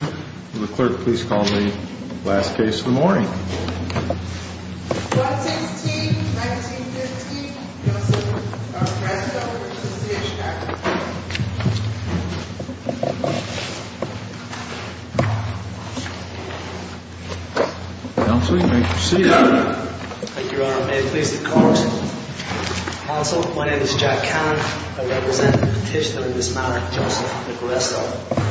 Will the clerk please call the last case of the morning? 116-1915, Joseph Agresto, Association Act. Counsel, you may proceed. Thank you, Your Honor. May it please the Court? Counsel, my name is Jack Cannon. I represent the petitioner in this matter, Joseph Agresto.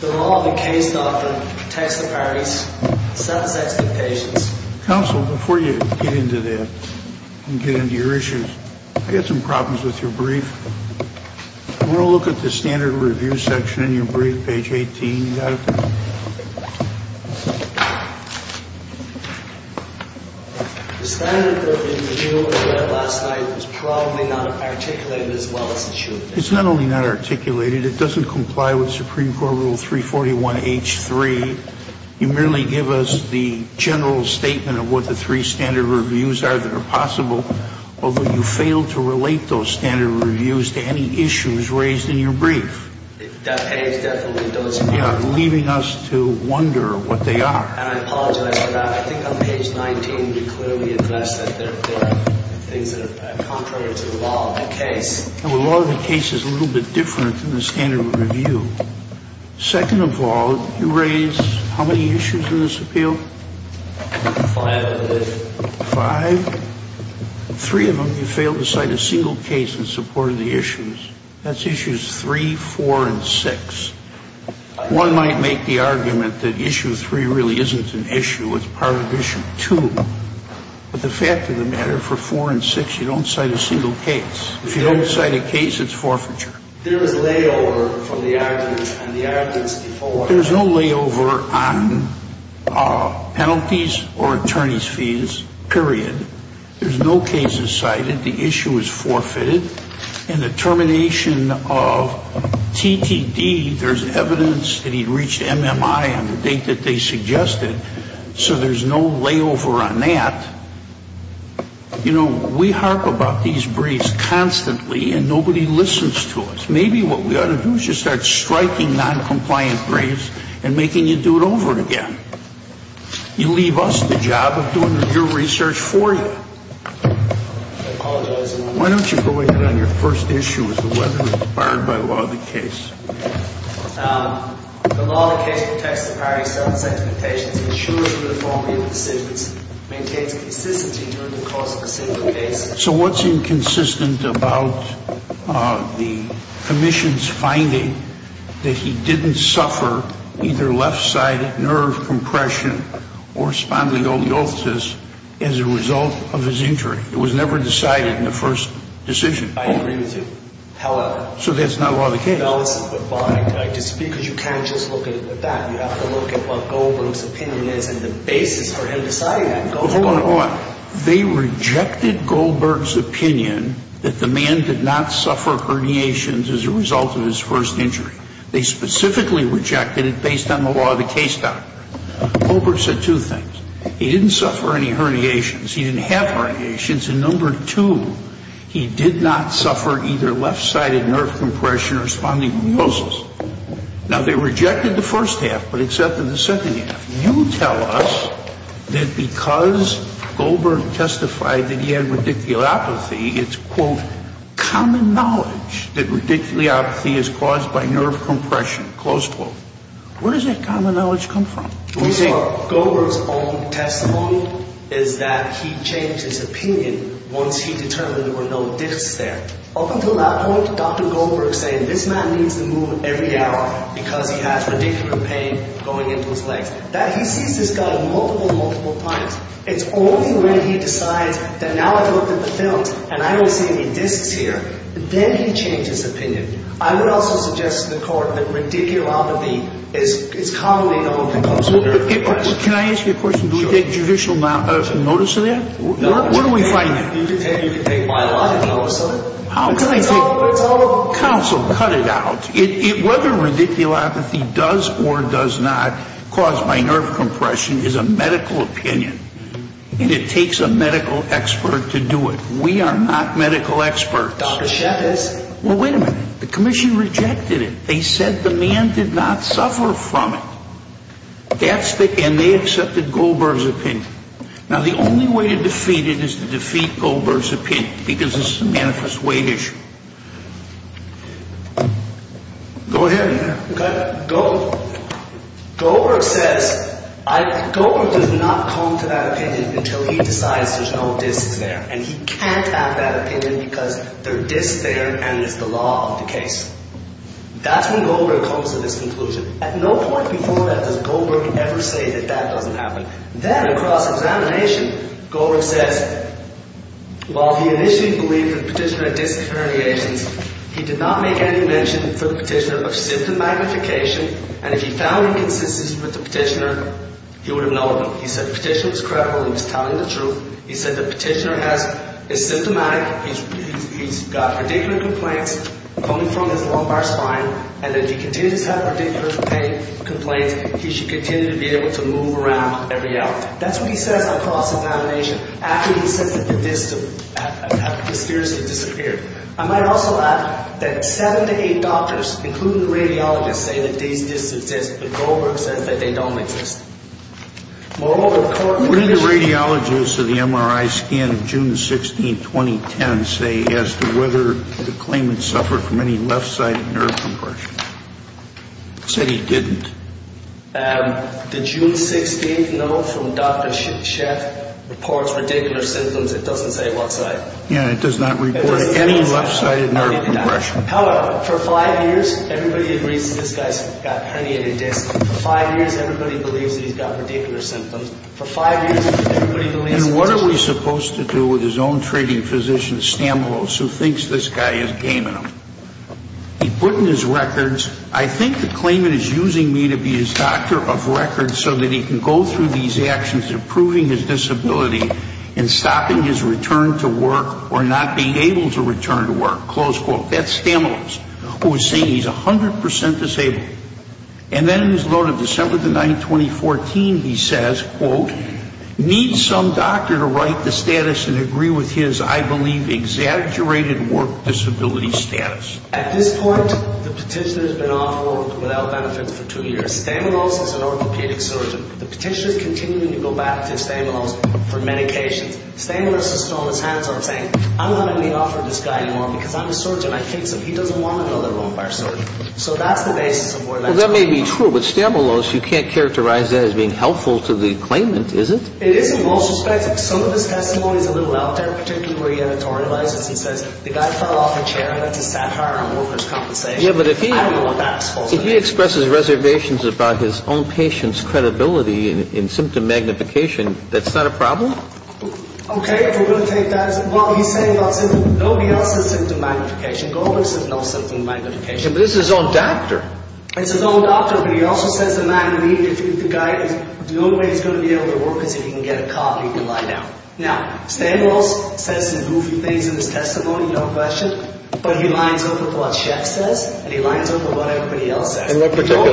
The law of the case, doctor, protects the parties. It satisfies the patients. Counsel, before you get into that and get into your issues, I've got some problems with your brief. Do you want to look at the standard review section in your brief, page 18? The standard review last night is probably not articulated as well as it should be. It's not only not articulated, it doesn't comply with Supreme Court Rule 341H3. You merely give us the general statement of what the three standard reviews are that are possible, although you fail to relate those standard reviews to any issues raised in your brief. That page definitely does not. Yeah, leaving us to wonder what they are. And I apologize for that. I think on page 19 you clearly address that there are things that are contrary to the law of the case. The law of the case is a little bit different than the standard review. Second of all, you raise how many issues in this appeal? Five, I believe. Five? Three of them you fail to cite a single case in support of the issues. That's issues 3, 4, and 6. One might make the argument that issue 3 really isn't an issue, it's part of issue 2. But the fact of the matter, for 4 and 6, you don't cite a single case. If you don't cite a case, it's forfeiture. There is layover from the argument, and the argument's default. There's no layover on penalties or attorney's fees, period. There's no cases cited. The issue is forfeited. In the termination of TTD, there's evidence that he reached MMI on the date that they suggested. So there's no layover on that. You know, we harp about these briefs constantly, and nobody listens to us. Maybe what we ought to do is just start striking noncompliant briefs and making you do it over again. You leave us the job of doing the real research for you. Why don't you go ahead on your first issue as to whether it's barred by the law of the case. The law of the case protects the priority of self-examination. It ensures uniformity of decisions, maintains consistency during the course of a single case. So what's inconsistent about the commission's finding that he didn't suffer either left-sided nerve compression or spondylolisthesis as a result of his injury? It was never decided in the first decision. I agree with you, however. So that's not law of the case? Because you can't just look at it with that. You have to look at what Goldberg's opinion is and the basis for him deciding that. Hold on, hold on. They rejected Goldberg's opinion that the man did not suffer herniations as a result of his first injury. They specifically rejected it based on the law of the case document. Goldberg said two things. He didn't suffer any herniations. He didn't have herniations. And number two, he did not suffer either left-sided nerve compression or spondylolisthesis. Now, they rejected the first half but accepted the second half. You tell us that because Goldberg testified that he had radiculopathy, it's, quote, common knowledge that radiculopathy is caused by nerve compression, close quote. Where does that common knowledge come from? Goldberg's own testimony is that he changed his opinion once he determined there were no discs there. Up until that point, Dr. Goldberg is saying this man needs to move every hour because he has radiculopathy going into his legs. He sees this guy multiple, multiple times. It's only when he decides that now I've looked at the films and I don't see any discs here, then he changes his opinion. I would also suggest to the Court that radiculopathy is commonly known to cause nerve compression. Can I ask you a question? Sure. Do we get judicial notice of that? No. Where do we find it? You can take my line of notice of it. How can I take it? It's all over. Counsel, cut it out. Whether radiculopathy does or does not cause my nerve compression is a medical opinion. And it takes a medical expert to do it. We are not medical experts. Dr. Sheff is. Well, wait a minute. The Commission rejected it. They said the man did not suffer from it. And they accepted Goldberg's opinion. Now, the only way to defeat it is to defeat Goldberg's opinion because it's a manifest weight issue. Go ahead. Goldberg says. Goldberg does not come to that opinion until he decides there's no discs there. And he can't have that opinion because there are discs there and it's the law of the case. That's when Goldberg comes to this conclusion. At no point before that does Goldberg ever say that that doesn't happen. Then, across examination, Goldberg says. While he initially believed the petitioner had disc herniations, he did not make any mention for the petitioner of symptom magnification. And if he found inconsistency with the petitioner, he would have known. He said the petitioner was credible. He was telling the truth. He said the petitioner is symptomatic. He's got radicular complaints coming from his lumbar spine. And if he continues to have radicular complaints, he should continue to be able to move around every hour. That's what he says across examination after he says that the discs have mysteriously disappeared. I might also add that seven to eight doctors, including the radiologists, say that these discs exist. But Goldberg says that they don't exist. What do the radiologists of the MRI scan of June 16, 2010 say as to whether the claimant suffered from any left-sided nerve compression? He said he didn't. The June 16th note from Dr. Sheth reports radicular symptoms. It doesn't say what side. Yeah, it does not report any left-sided nerve compression. However, for five years, everybody agrees that this guy's got herniated discs. For five years, everybody believes that he's got radicular symptoms. For five years, everybody believes that he's got… And what are we supposed to do with his own treating physician, Stamoulos, who thinks this guy is gaming him? He put in his records, I think the claimant is using me to be his doctor of record so that he can go through these actions of proving his disability and stopping his return to work or not being able to return to work, close quote. That's Stamoulos, who is saying he's 100 percent disabled. And then in his note of December 9, 2014, he says, quote, need some doctor to write the status and agree with his, I believe, exaggerated work disability status. At this point, the petitioner has been off work without benefits for two years. Stamoulos is an orthopedic surgeon. The petitioner is continuing to go back to Stamoulos for medications. Stamoulos is still on his hands and saying, I'm not going to be offering this guy anymore because I'm a surgeon. I think he doesn't want another lumbar surgeon. So that's the basis of where that's going. Well, that may be true. But Stamoulos, you can't characterize that as being helpful to the claimant, is it? It is, in most respects. Some of his testimony is a little out there, particularly where he editorializes. He says, the guy fell off a chair. I had to sat-hire him over his compensation. Yeah, but if he... I don't know what that is supposed to mean. If he expresses reservations about his own patient's credibility in symptom magnification, that's not a problem? Okay. If we're going to take that as... Well, he's saying about symptom... Nobody else says symptom magnification. Goldberg says no symptom magnification. But this is his own doctor. It's his own doctor. But he also says the guy is no way he's going to be able to work because if he can get a copy, he can lie down. Now, Stamoulos says some goofy things in his testimony, no question. But he lines up with what Sheff says, and he lines up with what everybody else says. In what particular?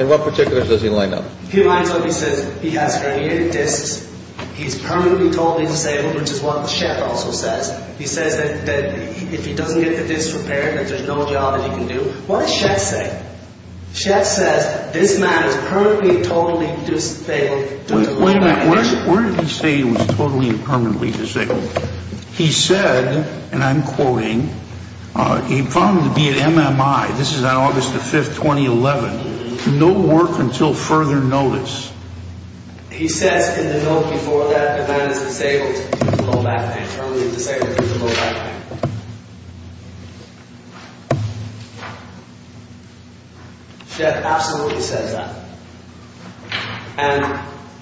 In what particular does he line up? He lines up. He says he has herniated discs. He's permanently totally disabled, which is what Sheff also says. He says that if he doesn't get the disc repaired, that there's no job that he can do. What does Sheff say? Sheff says this man is permanently and totally disabled. Wait a minute. Where did he say he was totally and permanently disabled? He said, and I'm quoting, he found him to be at MMI. This is on August the 5th, 2011. No work until further notice. He says in the note before that the man is disabled. Sheff absolutely says that.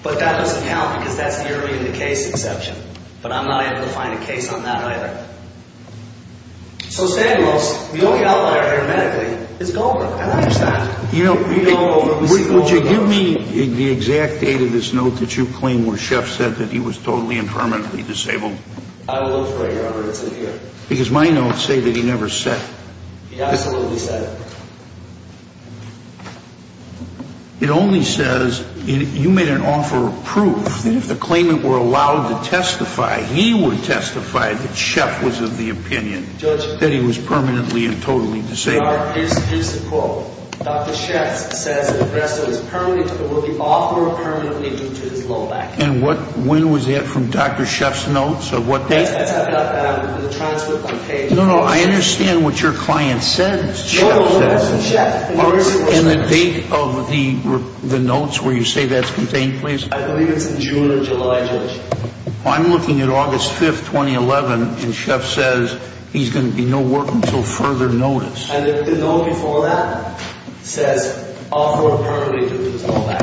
But that doesn't count because that's the early in the case exception. But I'm not able to find a case on that either. So Stamoulos, the only outlier here medically is Goldberg. And I understand. You know, would you give me the exact date of this note that you claim where Sheff said that he was totally and permanently disabled? Because my notes say that he never said. He absolutely said it. It only says, you made an offer of proof, that if the claimant were allowed to testify, he would testify that Sheff was of the opinion that he was permanently and totally disabled. Here's the quote. Dr. Sheff says that the rest of his permanent will be offered permanently due to his low back pain. And when was that from Dr. Sheff's notes or what date? No, no, I understand what your client says. And the date of the notes where you say that's contained, please. I believe it's in June or July, Judge. I'm looking at August 5th, 2011, and Sheff says he's going to be no work until further notice. And the note before that says, offered permanently due to his low back.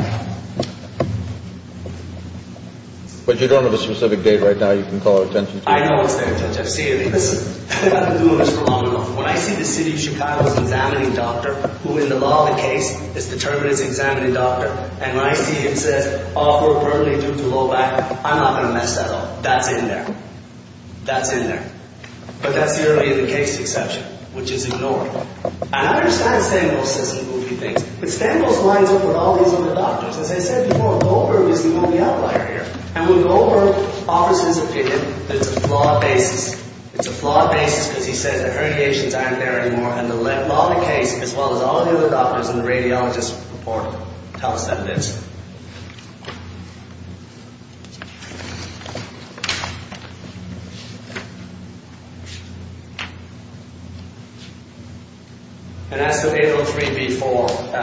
But you don't have a specific date right now you can call attention to? I know it's there, Judge. I've seen it. I've been doing this for long enough. When I see the city of Chicago's examining doctor, who in the law of the case is determined as an examining doctor, and when I see it says, offered permanently due to low back, I'm not going to mess that up. That's in there. That's in there. But that's the only other case exception, which is ignored. And I understand Stengel's system will do things. But Stengel's lines up with all these other doctors. As I said before, Goldberg is the only outlier here. And when Goldberg offers his opinion, there's a flawed basis. It's a flawed basis because he says the herniations aren't there anymore, and the law of the case, as well as all the other doctors and the radiologists report it. Tell us that it is. And as to 803b-4,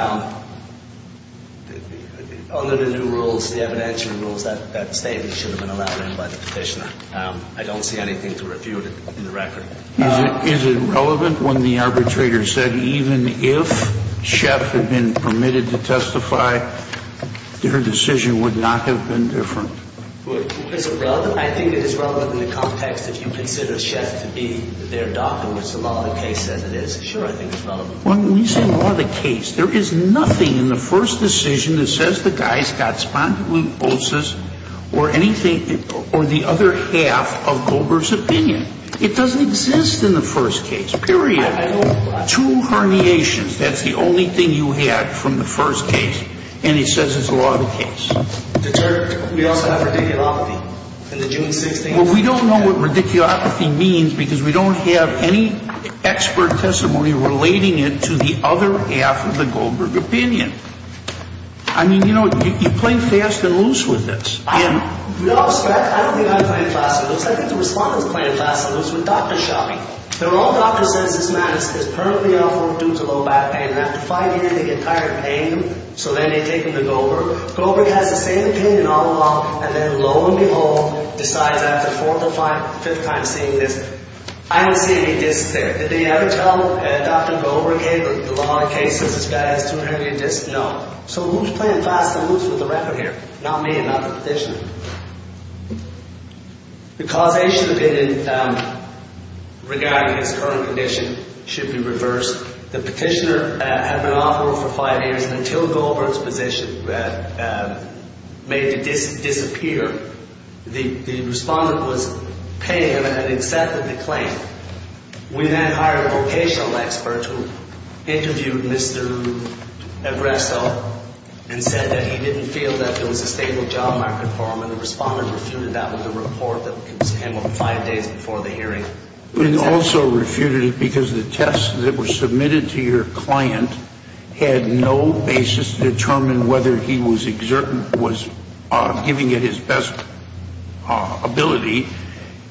under the new rules, the evidentiary rules, that statement should have been allowed in by the petitioner. I don't see anything to refute it in the record. Is it relevant when the arbitrator said even if Scheff had been permitted to testify, their decision would not have been different? I think it is relevant in the context that you consider Scheff to be their doctor, which the law of the case says it is. Sure, I think it's relevant. When you say law of the case, there is nothing in the first decision that says the guy's got spondylosis or the other half of Goldberg's opinion. It doesn't exist in the first case, period. Two herniations, that's the only thing you had from the first case. And he says it's law of the case. We also have radiculopathy. Well, we don't know what radiculopathy means because we don't have any expert testimony relating it to the other half of the Goldberg opinion. I mean, you know, you're playing fast and loose with this. No, I don't think I'm playing fast and loose. I think the respondents are playing fast and loose with doctor shopping. Their own doctor says this man is permanently ill due to low back pain, and after five years they get tired of paying him, so then they take him to Goldberg. Goldberg has the same opinion all along, and then, lo and behold, decides after the fourth or fifth time seeing this, I don't see any discs there. Did they ever tell Dr. Goldberg, hey, look, the law of the case says this guy has two herniated discs? No. So who's playing fast and loose with the record here? Not me and not the petitioner. The causation opinion regarding his current condition should be reversed. The petitioner had been on parole for five years, and until Goldberg's position made the disc disappear, the respondent was paying him and had accepted the claim. We then hired a vocational expert who interviewed Mr. Abrezzo and said that he didn't feel that there was a stable job market for him, and the respondent refuted that with a report that came up five days before the hearing. And also refuted it because the tests that were submitted to your client had no basis to determine whether he was giving it his best ability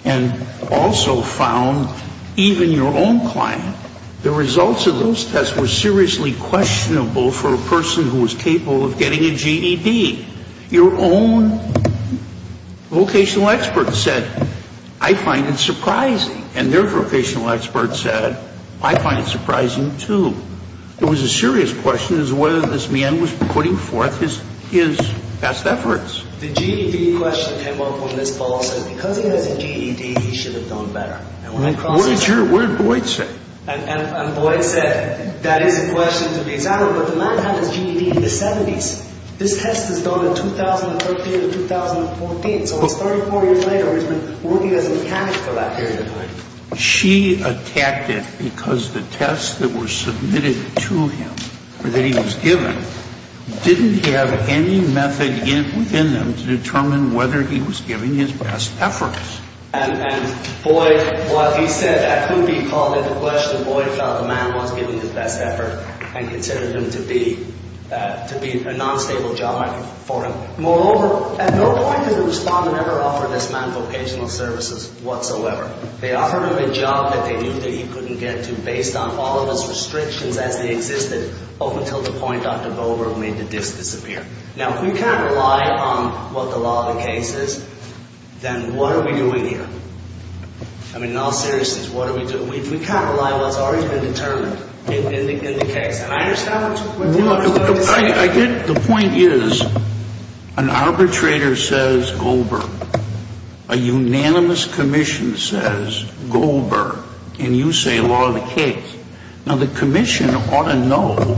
and also found even your own client, the results of those tests were seriously questionable for a person who was capable of getting a GED. Your own vocational expert said, I find it surprising. And their vocational expert said, I find it surprising, too. It was a serious question as to whether this man was putting forth his best efforts. The GED question came up when this fellow said because he has a GED, he should have done better. And when I cross-examined him. What did Boyd say? And Boyd said, that is a question to be examined, but the man had his GED in the 70s. This test was done in 2013 and 2014. So it's 34 years later where he's been working as a mechanic for that period of time. She attacked it because the tests that were submitted to him or that he was given didn't have any method in them to determine whether he was giving his best efforts. And Boyd, while he said that couldn't be called it a question, Boyd felt the man was giving his best effort and considered him to be a non-stable job for him. Moreover, at no point did the respondent ever offer this man vocational services whatsoever. They offered him a job that they knew that he couldn't get to based on all of his restrictions as they existed up until the point Dr. Boberg made the disk disappear. Now, if we can't rely on what the law of the case is, then what are we doing here? I mean, in all seriousness, what are we doing? If we can't rely on what's already been determined in the case, and I understand what you're saying. The point is an arbitrator says Goldberg. A unanimous commission says Goldberg. And you say law of the case. Now, the commission ought to know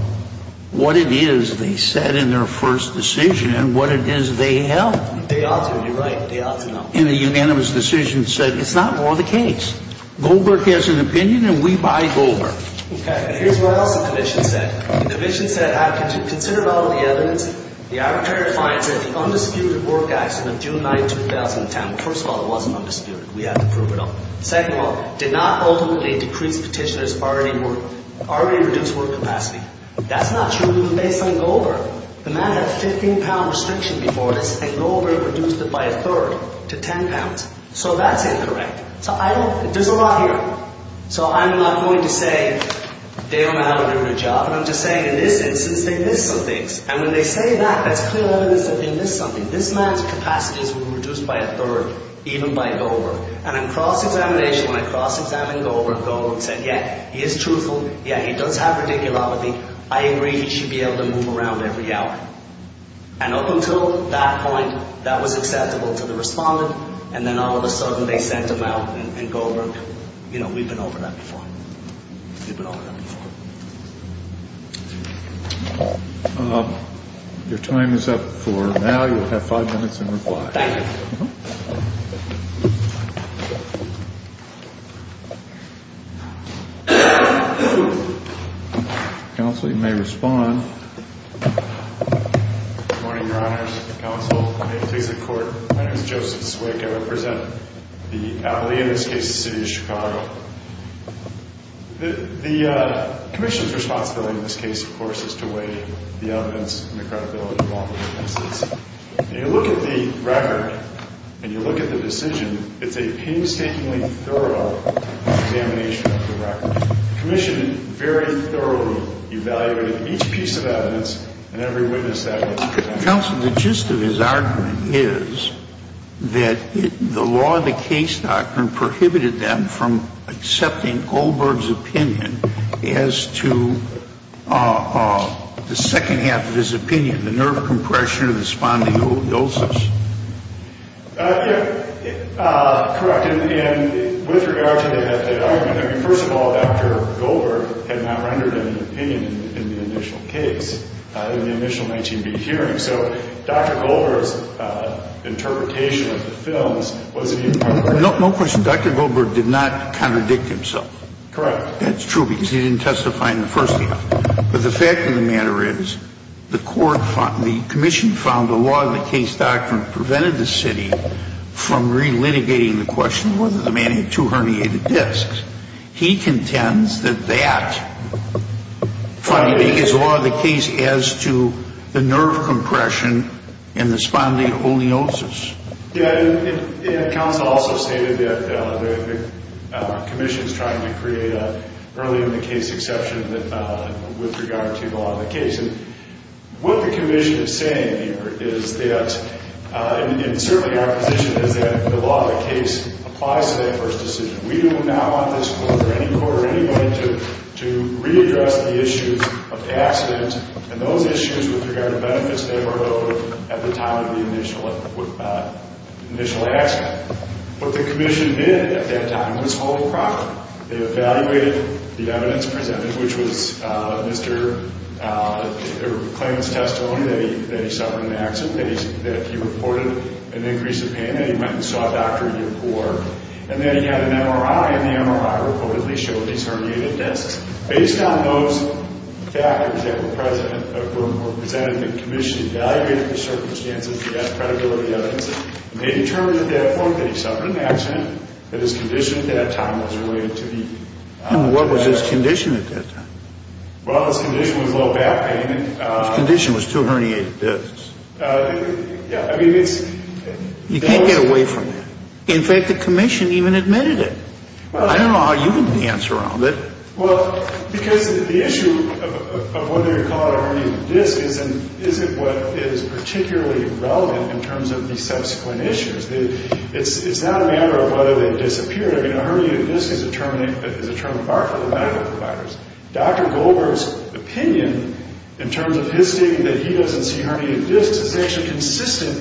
what it is they said in their first decision and what it is they held. They ought to be right. They ought to know. And the unanimous decision said it's not law of the case. Goldberg has an opinion, and we buy Goldberg. Okay. And here's what else the commission said. The commission said, consider all of the evidence the arbitrator finds that the undisputed work accident of June 9, 2010, first of all, it wasn't undisputed. We have to prove it all. Second of all, did not ultimately decrease petitioners' already reduced work capacity. That's not true even based on Goldberg. The man had a 15-pound restriction before this, and Goldberg reduced it by a third to 10 pounds. So that's incorrect. So I don't, there's a lot here. So I'm not going to say Dale and Allen are doing a good job, and I'm just saying in this instance they missed some things. And when they say that, that's clear evidence that they missed something. This man's capacities were reduced by a third, even by Goldberg. And in cross-examination, when I cross-examined Goldberg, Goldberg said, yeah, he is truthful. Yeah, he does have radiculopathy. I agree he should be able to move around every hour. And up until that point, that was acceptable to the respondent. And then all of a sudden they sent him out, and Goldberg, you know, we've been over that before. We've been over that before. Your time is up for now. You have five minutes in reply. Thank you. Counsel, you may respond. Good morning, Your Honors. Counsel, may it please the Court. My name is Joseph Zwick. I represent the appellee in this case, the city of Chicago. The commission's responsibility in this case, of course, is to weigh the evidence and the credibility of all the witnesses. When you look at the record and you look at the decision, it's a painstakingly thorough examination of the record. The commission very thoroughly evaluated each piece of evidence and every witness that was present. Counsel, the gist of his argument is that the law, the case doctrine, prohibited them from accepting Goldberg's opinion as to the second half of his opinion, the nerve compression of the spondyloidosis. Yeah, correct. And with regard to that argument, I mean, first of all, Dr. Goldberg had not rendered an opinion in the initial case, in the initial 19B hearing. So Dr. Goldberg's interpretation of the films was that he... No question. Dr. Goldberg did not contradict himself. Correct. That's true because he didn't testify in the first half. But the fact of the matter is the court found, the commission found the law and the case doctrine prevented the city from relitigating the question of whether the man had two herniated discs. He contends that that is the law of the case as to the nerve compression and the spondyloidosis. Yeah, and counsel also stated that the commission is trying to create an early in the case exception with regard to the law and the case. And what the commission is saying here is that, and certainly our position is that the law of the case applies to that first decision. We do not want this court or any court or anybody to readdress the issues of the accident and those issues with regard to benefits that were owed at the time of the initial accident. What the commission did at that time was hold the property. They evaluated the evidence presented, which was Mr. Claimant's testimony that he suffered an accident, that he reported an increase in pain, that he went and saw a doctor to get more. And then he had an MRI, and the MRI reportedly showed these herniated discs. Based on those factors that were presented, the commission evaluated the circumstances to get credibility evidence, and they determined, therefore, that he suffered an accident and his condition at that time was related to the accident. And what was his condition at that time? Well, his condition was low back pain. His condition was two herniated discs. Yeah, I mean, it's... You can't get away from that. In fact, the commission even admitted it. I don't know how you can answer on that. Well, because the issue of whether you call it a herniated disc isn't what is particularly relevant in terms of the subsequent issues. It's not a matter of whether they disappeared. I mean, a herniated disc is a term that is a term of art for the medical providers. Dr. Goldberg's opinion, in terms of his stating that he doesn't see herniated discs, is actually consistent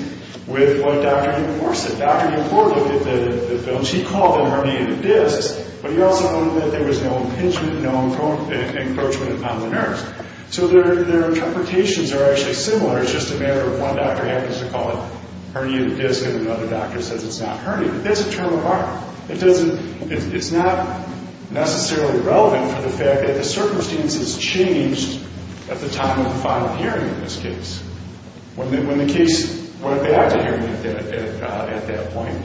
with what Dr. Gilmour said. Dr. Gilmour looked at the films. He called them herniated discs, but he also noted that there was no impingement, no encroachment upon the nerves. So their interpretations are actually similar. It's just a matter of one doctor happens to call it herniated discs and another doctor says it's not herniated. That's a term of art. It doesn't... It's not necessarily relevant for the fact that the circumstances changed at the time of the final hearing in this case. When the case went back to hearing at that point,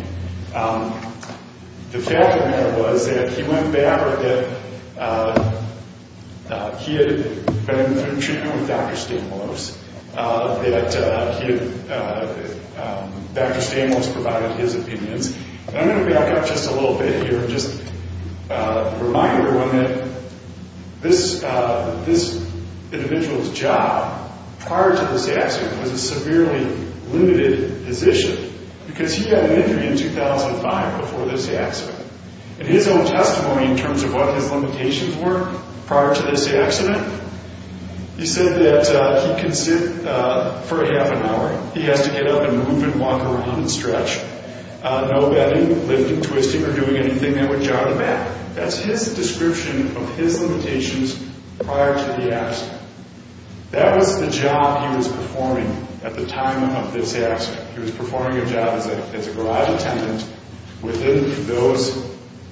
the fact of the matter was that he went back, or that he had been through treatment with Dr. Stamos, that Dr. Stamos provided his opinions. And I'm going to back up just a little bit here and just remind everyone that this individual's job prior to this accident was a severely limited position because he had an injury in 2005 before this accident. In his own testimony in terms of what his limitations were prior to this accident, he said that he can sit for a half an hour. He has to get up and move and walk around and stretch. No bending, lifting, twisting, or doing anything that would jog him back. That's his description of his limitations prior to the accident. That was the job he was performing at the time of this accident. He was performing a job as a garage attendant within those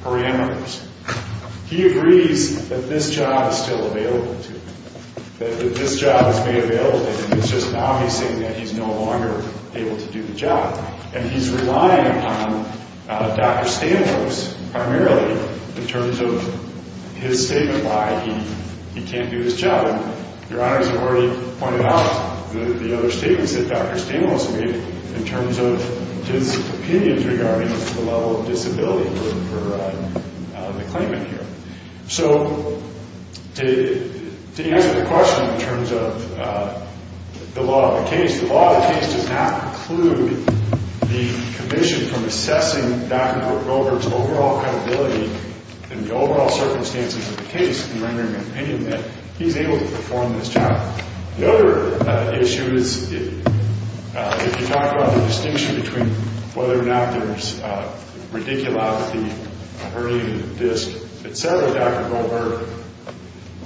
parameters. He agrees that this job is still available to him, that this job is made available to him. It's just now he's saying that he's no longer able to do the job. And he's relying upon Dr. Stamos primarily in terms of his statement why he can't do his job. Your Honor, as I've already pointed out, the other statements that Dr. Stamos made in terms of his opinions regarding the level of disability for the claimant here. So to answer the question in terms of the law of the case, the law of the case does not preclude the commission from assessing Dr. Robert's overall credibility and the overall circumstances of the case in rendering an opinion that he's able to perform this job. The other issue is if you talk about the distinction between whether or not there's radiculopathy, hurting the disc, et cetera, Dr. Goldberg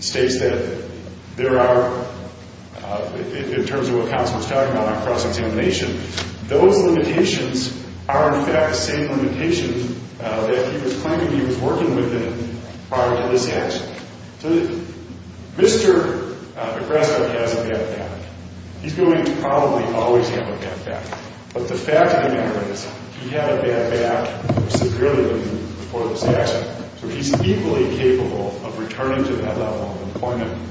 states that there are, in terms of what counsel was talking about on cross-examination, those limitations are in fact the same limitations that he was claiming when he was working with him prior to this accident. So Mr. McGrath has a bad back. He's going to probably always have a bad back. But the fact of the matter is he had a bad back severely before this accident. So he's equally capable of returning to that level of employment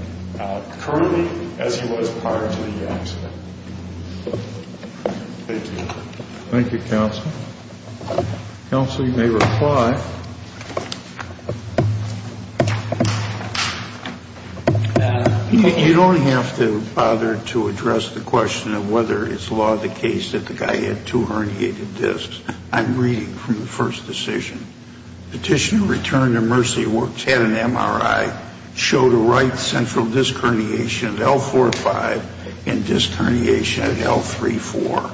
currently as he was prior to the accident. Thank you. Thank you, counsel. Counsel, you may reply. You don't have to bother to address the question of whether it's law of the case that the guy had two herniated discs. I'm reading from the first decision. Petitioner returned to Mercy Works, had an MRI, showed a right central disc herniation at L4-5 and disc herniation at L3-4.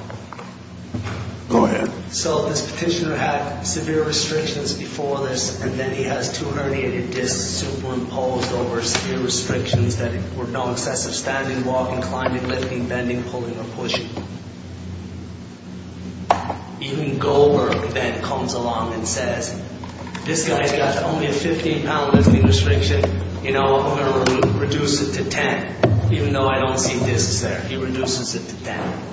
Go ahead. So this petitioner had severe restrictions before this, and then he has two herniated discs superimposed over severe restrictions that were non-excessive standing, walking, climbing, lifting, bending, pulling, or pushing. Even Goldberg then comes along and says, this guy's got only a 15-pound lifting restriction. I'm going to reduce it to 10, even though I don't see discs there. He reduces it to 10.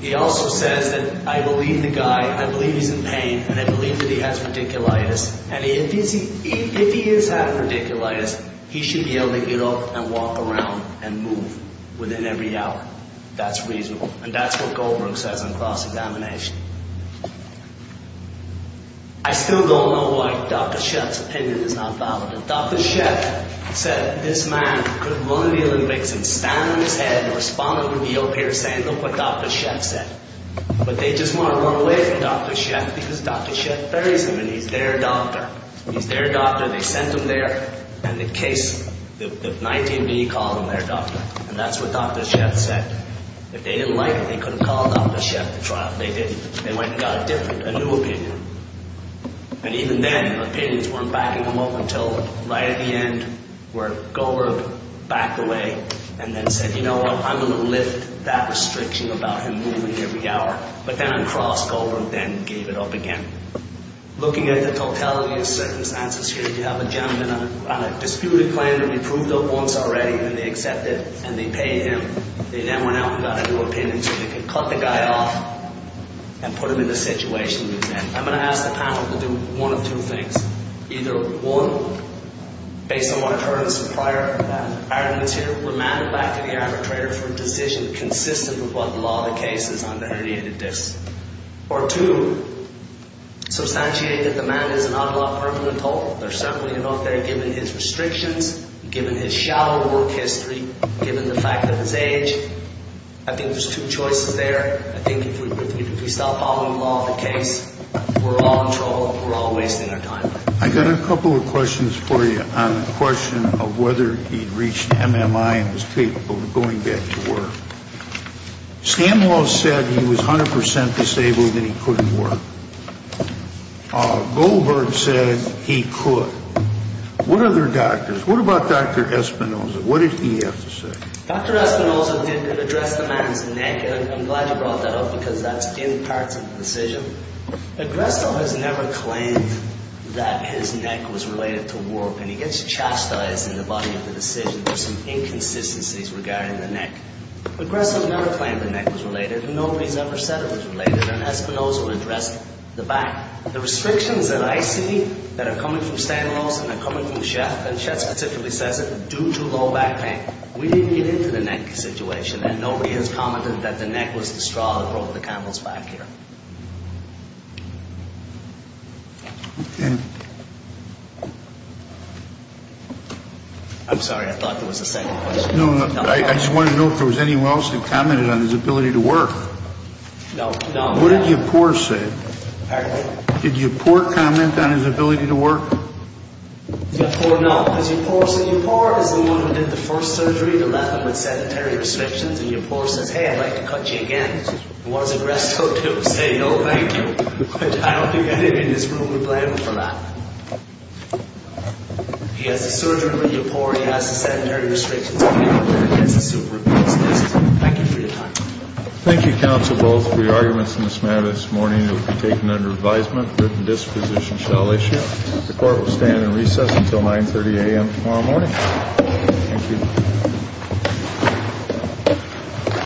He also says that I believe the guy, I believe he's in pain, and I believe that he has radiculitis, and if he is having radiculitis, he should be able to get up and walk around and move within every hour. That's reasonable, and that's what Goldberg says on cross-examination. I still don't know why Dr. Sheff's opinion is not valid. Dr. Sheff said this man could run the Olympics and stand on his head and respond to the O.P.R. saying, look what Dr. Sheff said. But they just want to run away from Dr. Sheff because Dr. Sheff buries him, and he's their doctor. He's their doctor. They sent him there, and the case, the 19B called him their doctor, and that's what Dr. Sheff said. If they didn't like him, they couldn't call Dr. Sheff to trial. They went and got a different, a new opinion. And even then, opinions weren't backing them up until right at the end where Goldberg backed away and then said, you know what, I'm going to lift that restriction about him moving every hour. But then on cross, Goldberg then gave it up again. Looking at the totality of circumstances here, you have a gentleman on a disputed claim that we proved up once already, and they accepted, and they paid him. They then went out and got a new opinion so they could cut the guy off and put him in the situation he was in. I'm going to ask the panel to do one of two things. Either one, based on what I've heard prior arguments here, remand him back to the arbitrator for a decision consistent with what the law of the case is on the herniated disc. Or two, substantiate that the man is an unlawful adult. There's certainly enough there given his restrictions, given his shallow work history, given the fact that his age. I think there's two choices there. I think if we stop following the law of the case, we're all in trouble. We're all wasting our time. I've got a couple of questions for you on the question of whether he reached MMI and was capable of going back to work. Stan Law said he was 100% disabled and he couldn't work. Goldberg said he could. What other doctors? What about Dr. Espinoza? What did he have to say? Dr. Espinoza did address the man's neck, and I'm glad you brought that up because that's in parts of the decision. Agresto has never claimed that his neck was related to work, and he gets chastised in the body of the decision for some inconsistencies regarding the neck. Agresto never claimed the neck was related, and nobody's ever said it was related, and Espinoza addressed the back. The restrictions that I see that are coming from Stan Laws and are coming from Sheth, and Sheth specifically says it, are due to low back pain. We didn't get into the neck situation, and nobody has commented that the neck was the straw that broke the camel's back here. Okay. I'm sorry. I thought there was a second question. No, no. I just wanted to know if there was anyone else that commented on his ability to work. No, no. What did Yipor say? Did Yipor comment on his ability to work? Yipor, no. Yipor is the one who did the first surgery. They left him with sedentary restrictions, and Yipor says, hey, I'd like to cut you again. He was Agresto to say no, thank you, but I don't think anyone in this room would blame him for that. He has the surgery with Yipor. He has the sedentary restrictions with Yipor, and he gets a super-inconsistent. Thank you for your time. Thank you, counsel, both, for your arguments in this matter. This morning it will be taken under advisement. Written disposition shall issue. The court will stand in recess until 930 a.m. tomorrow morning. Thank you.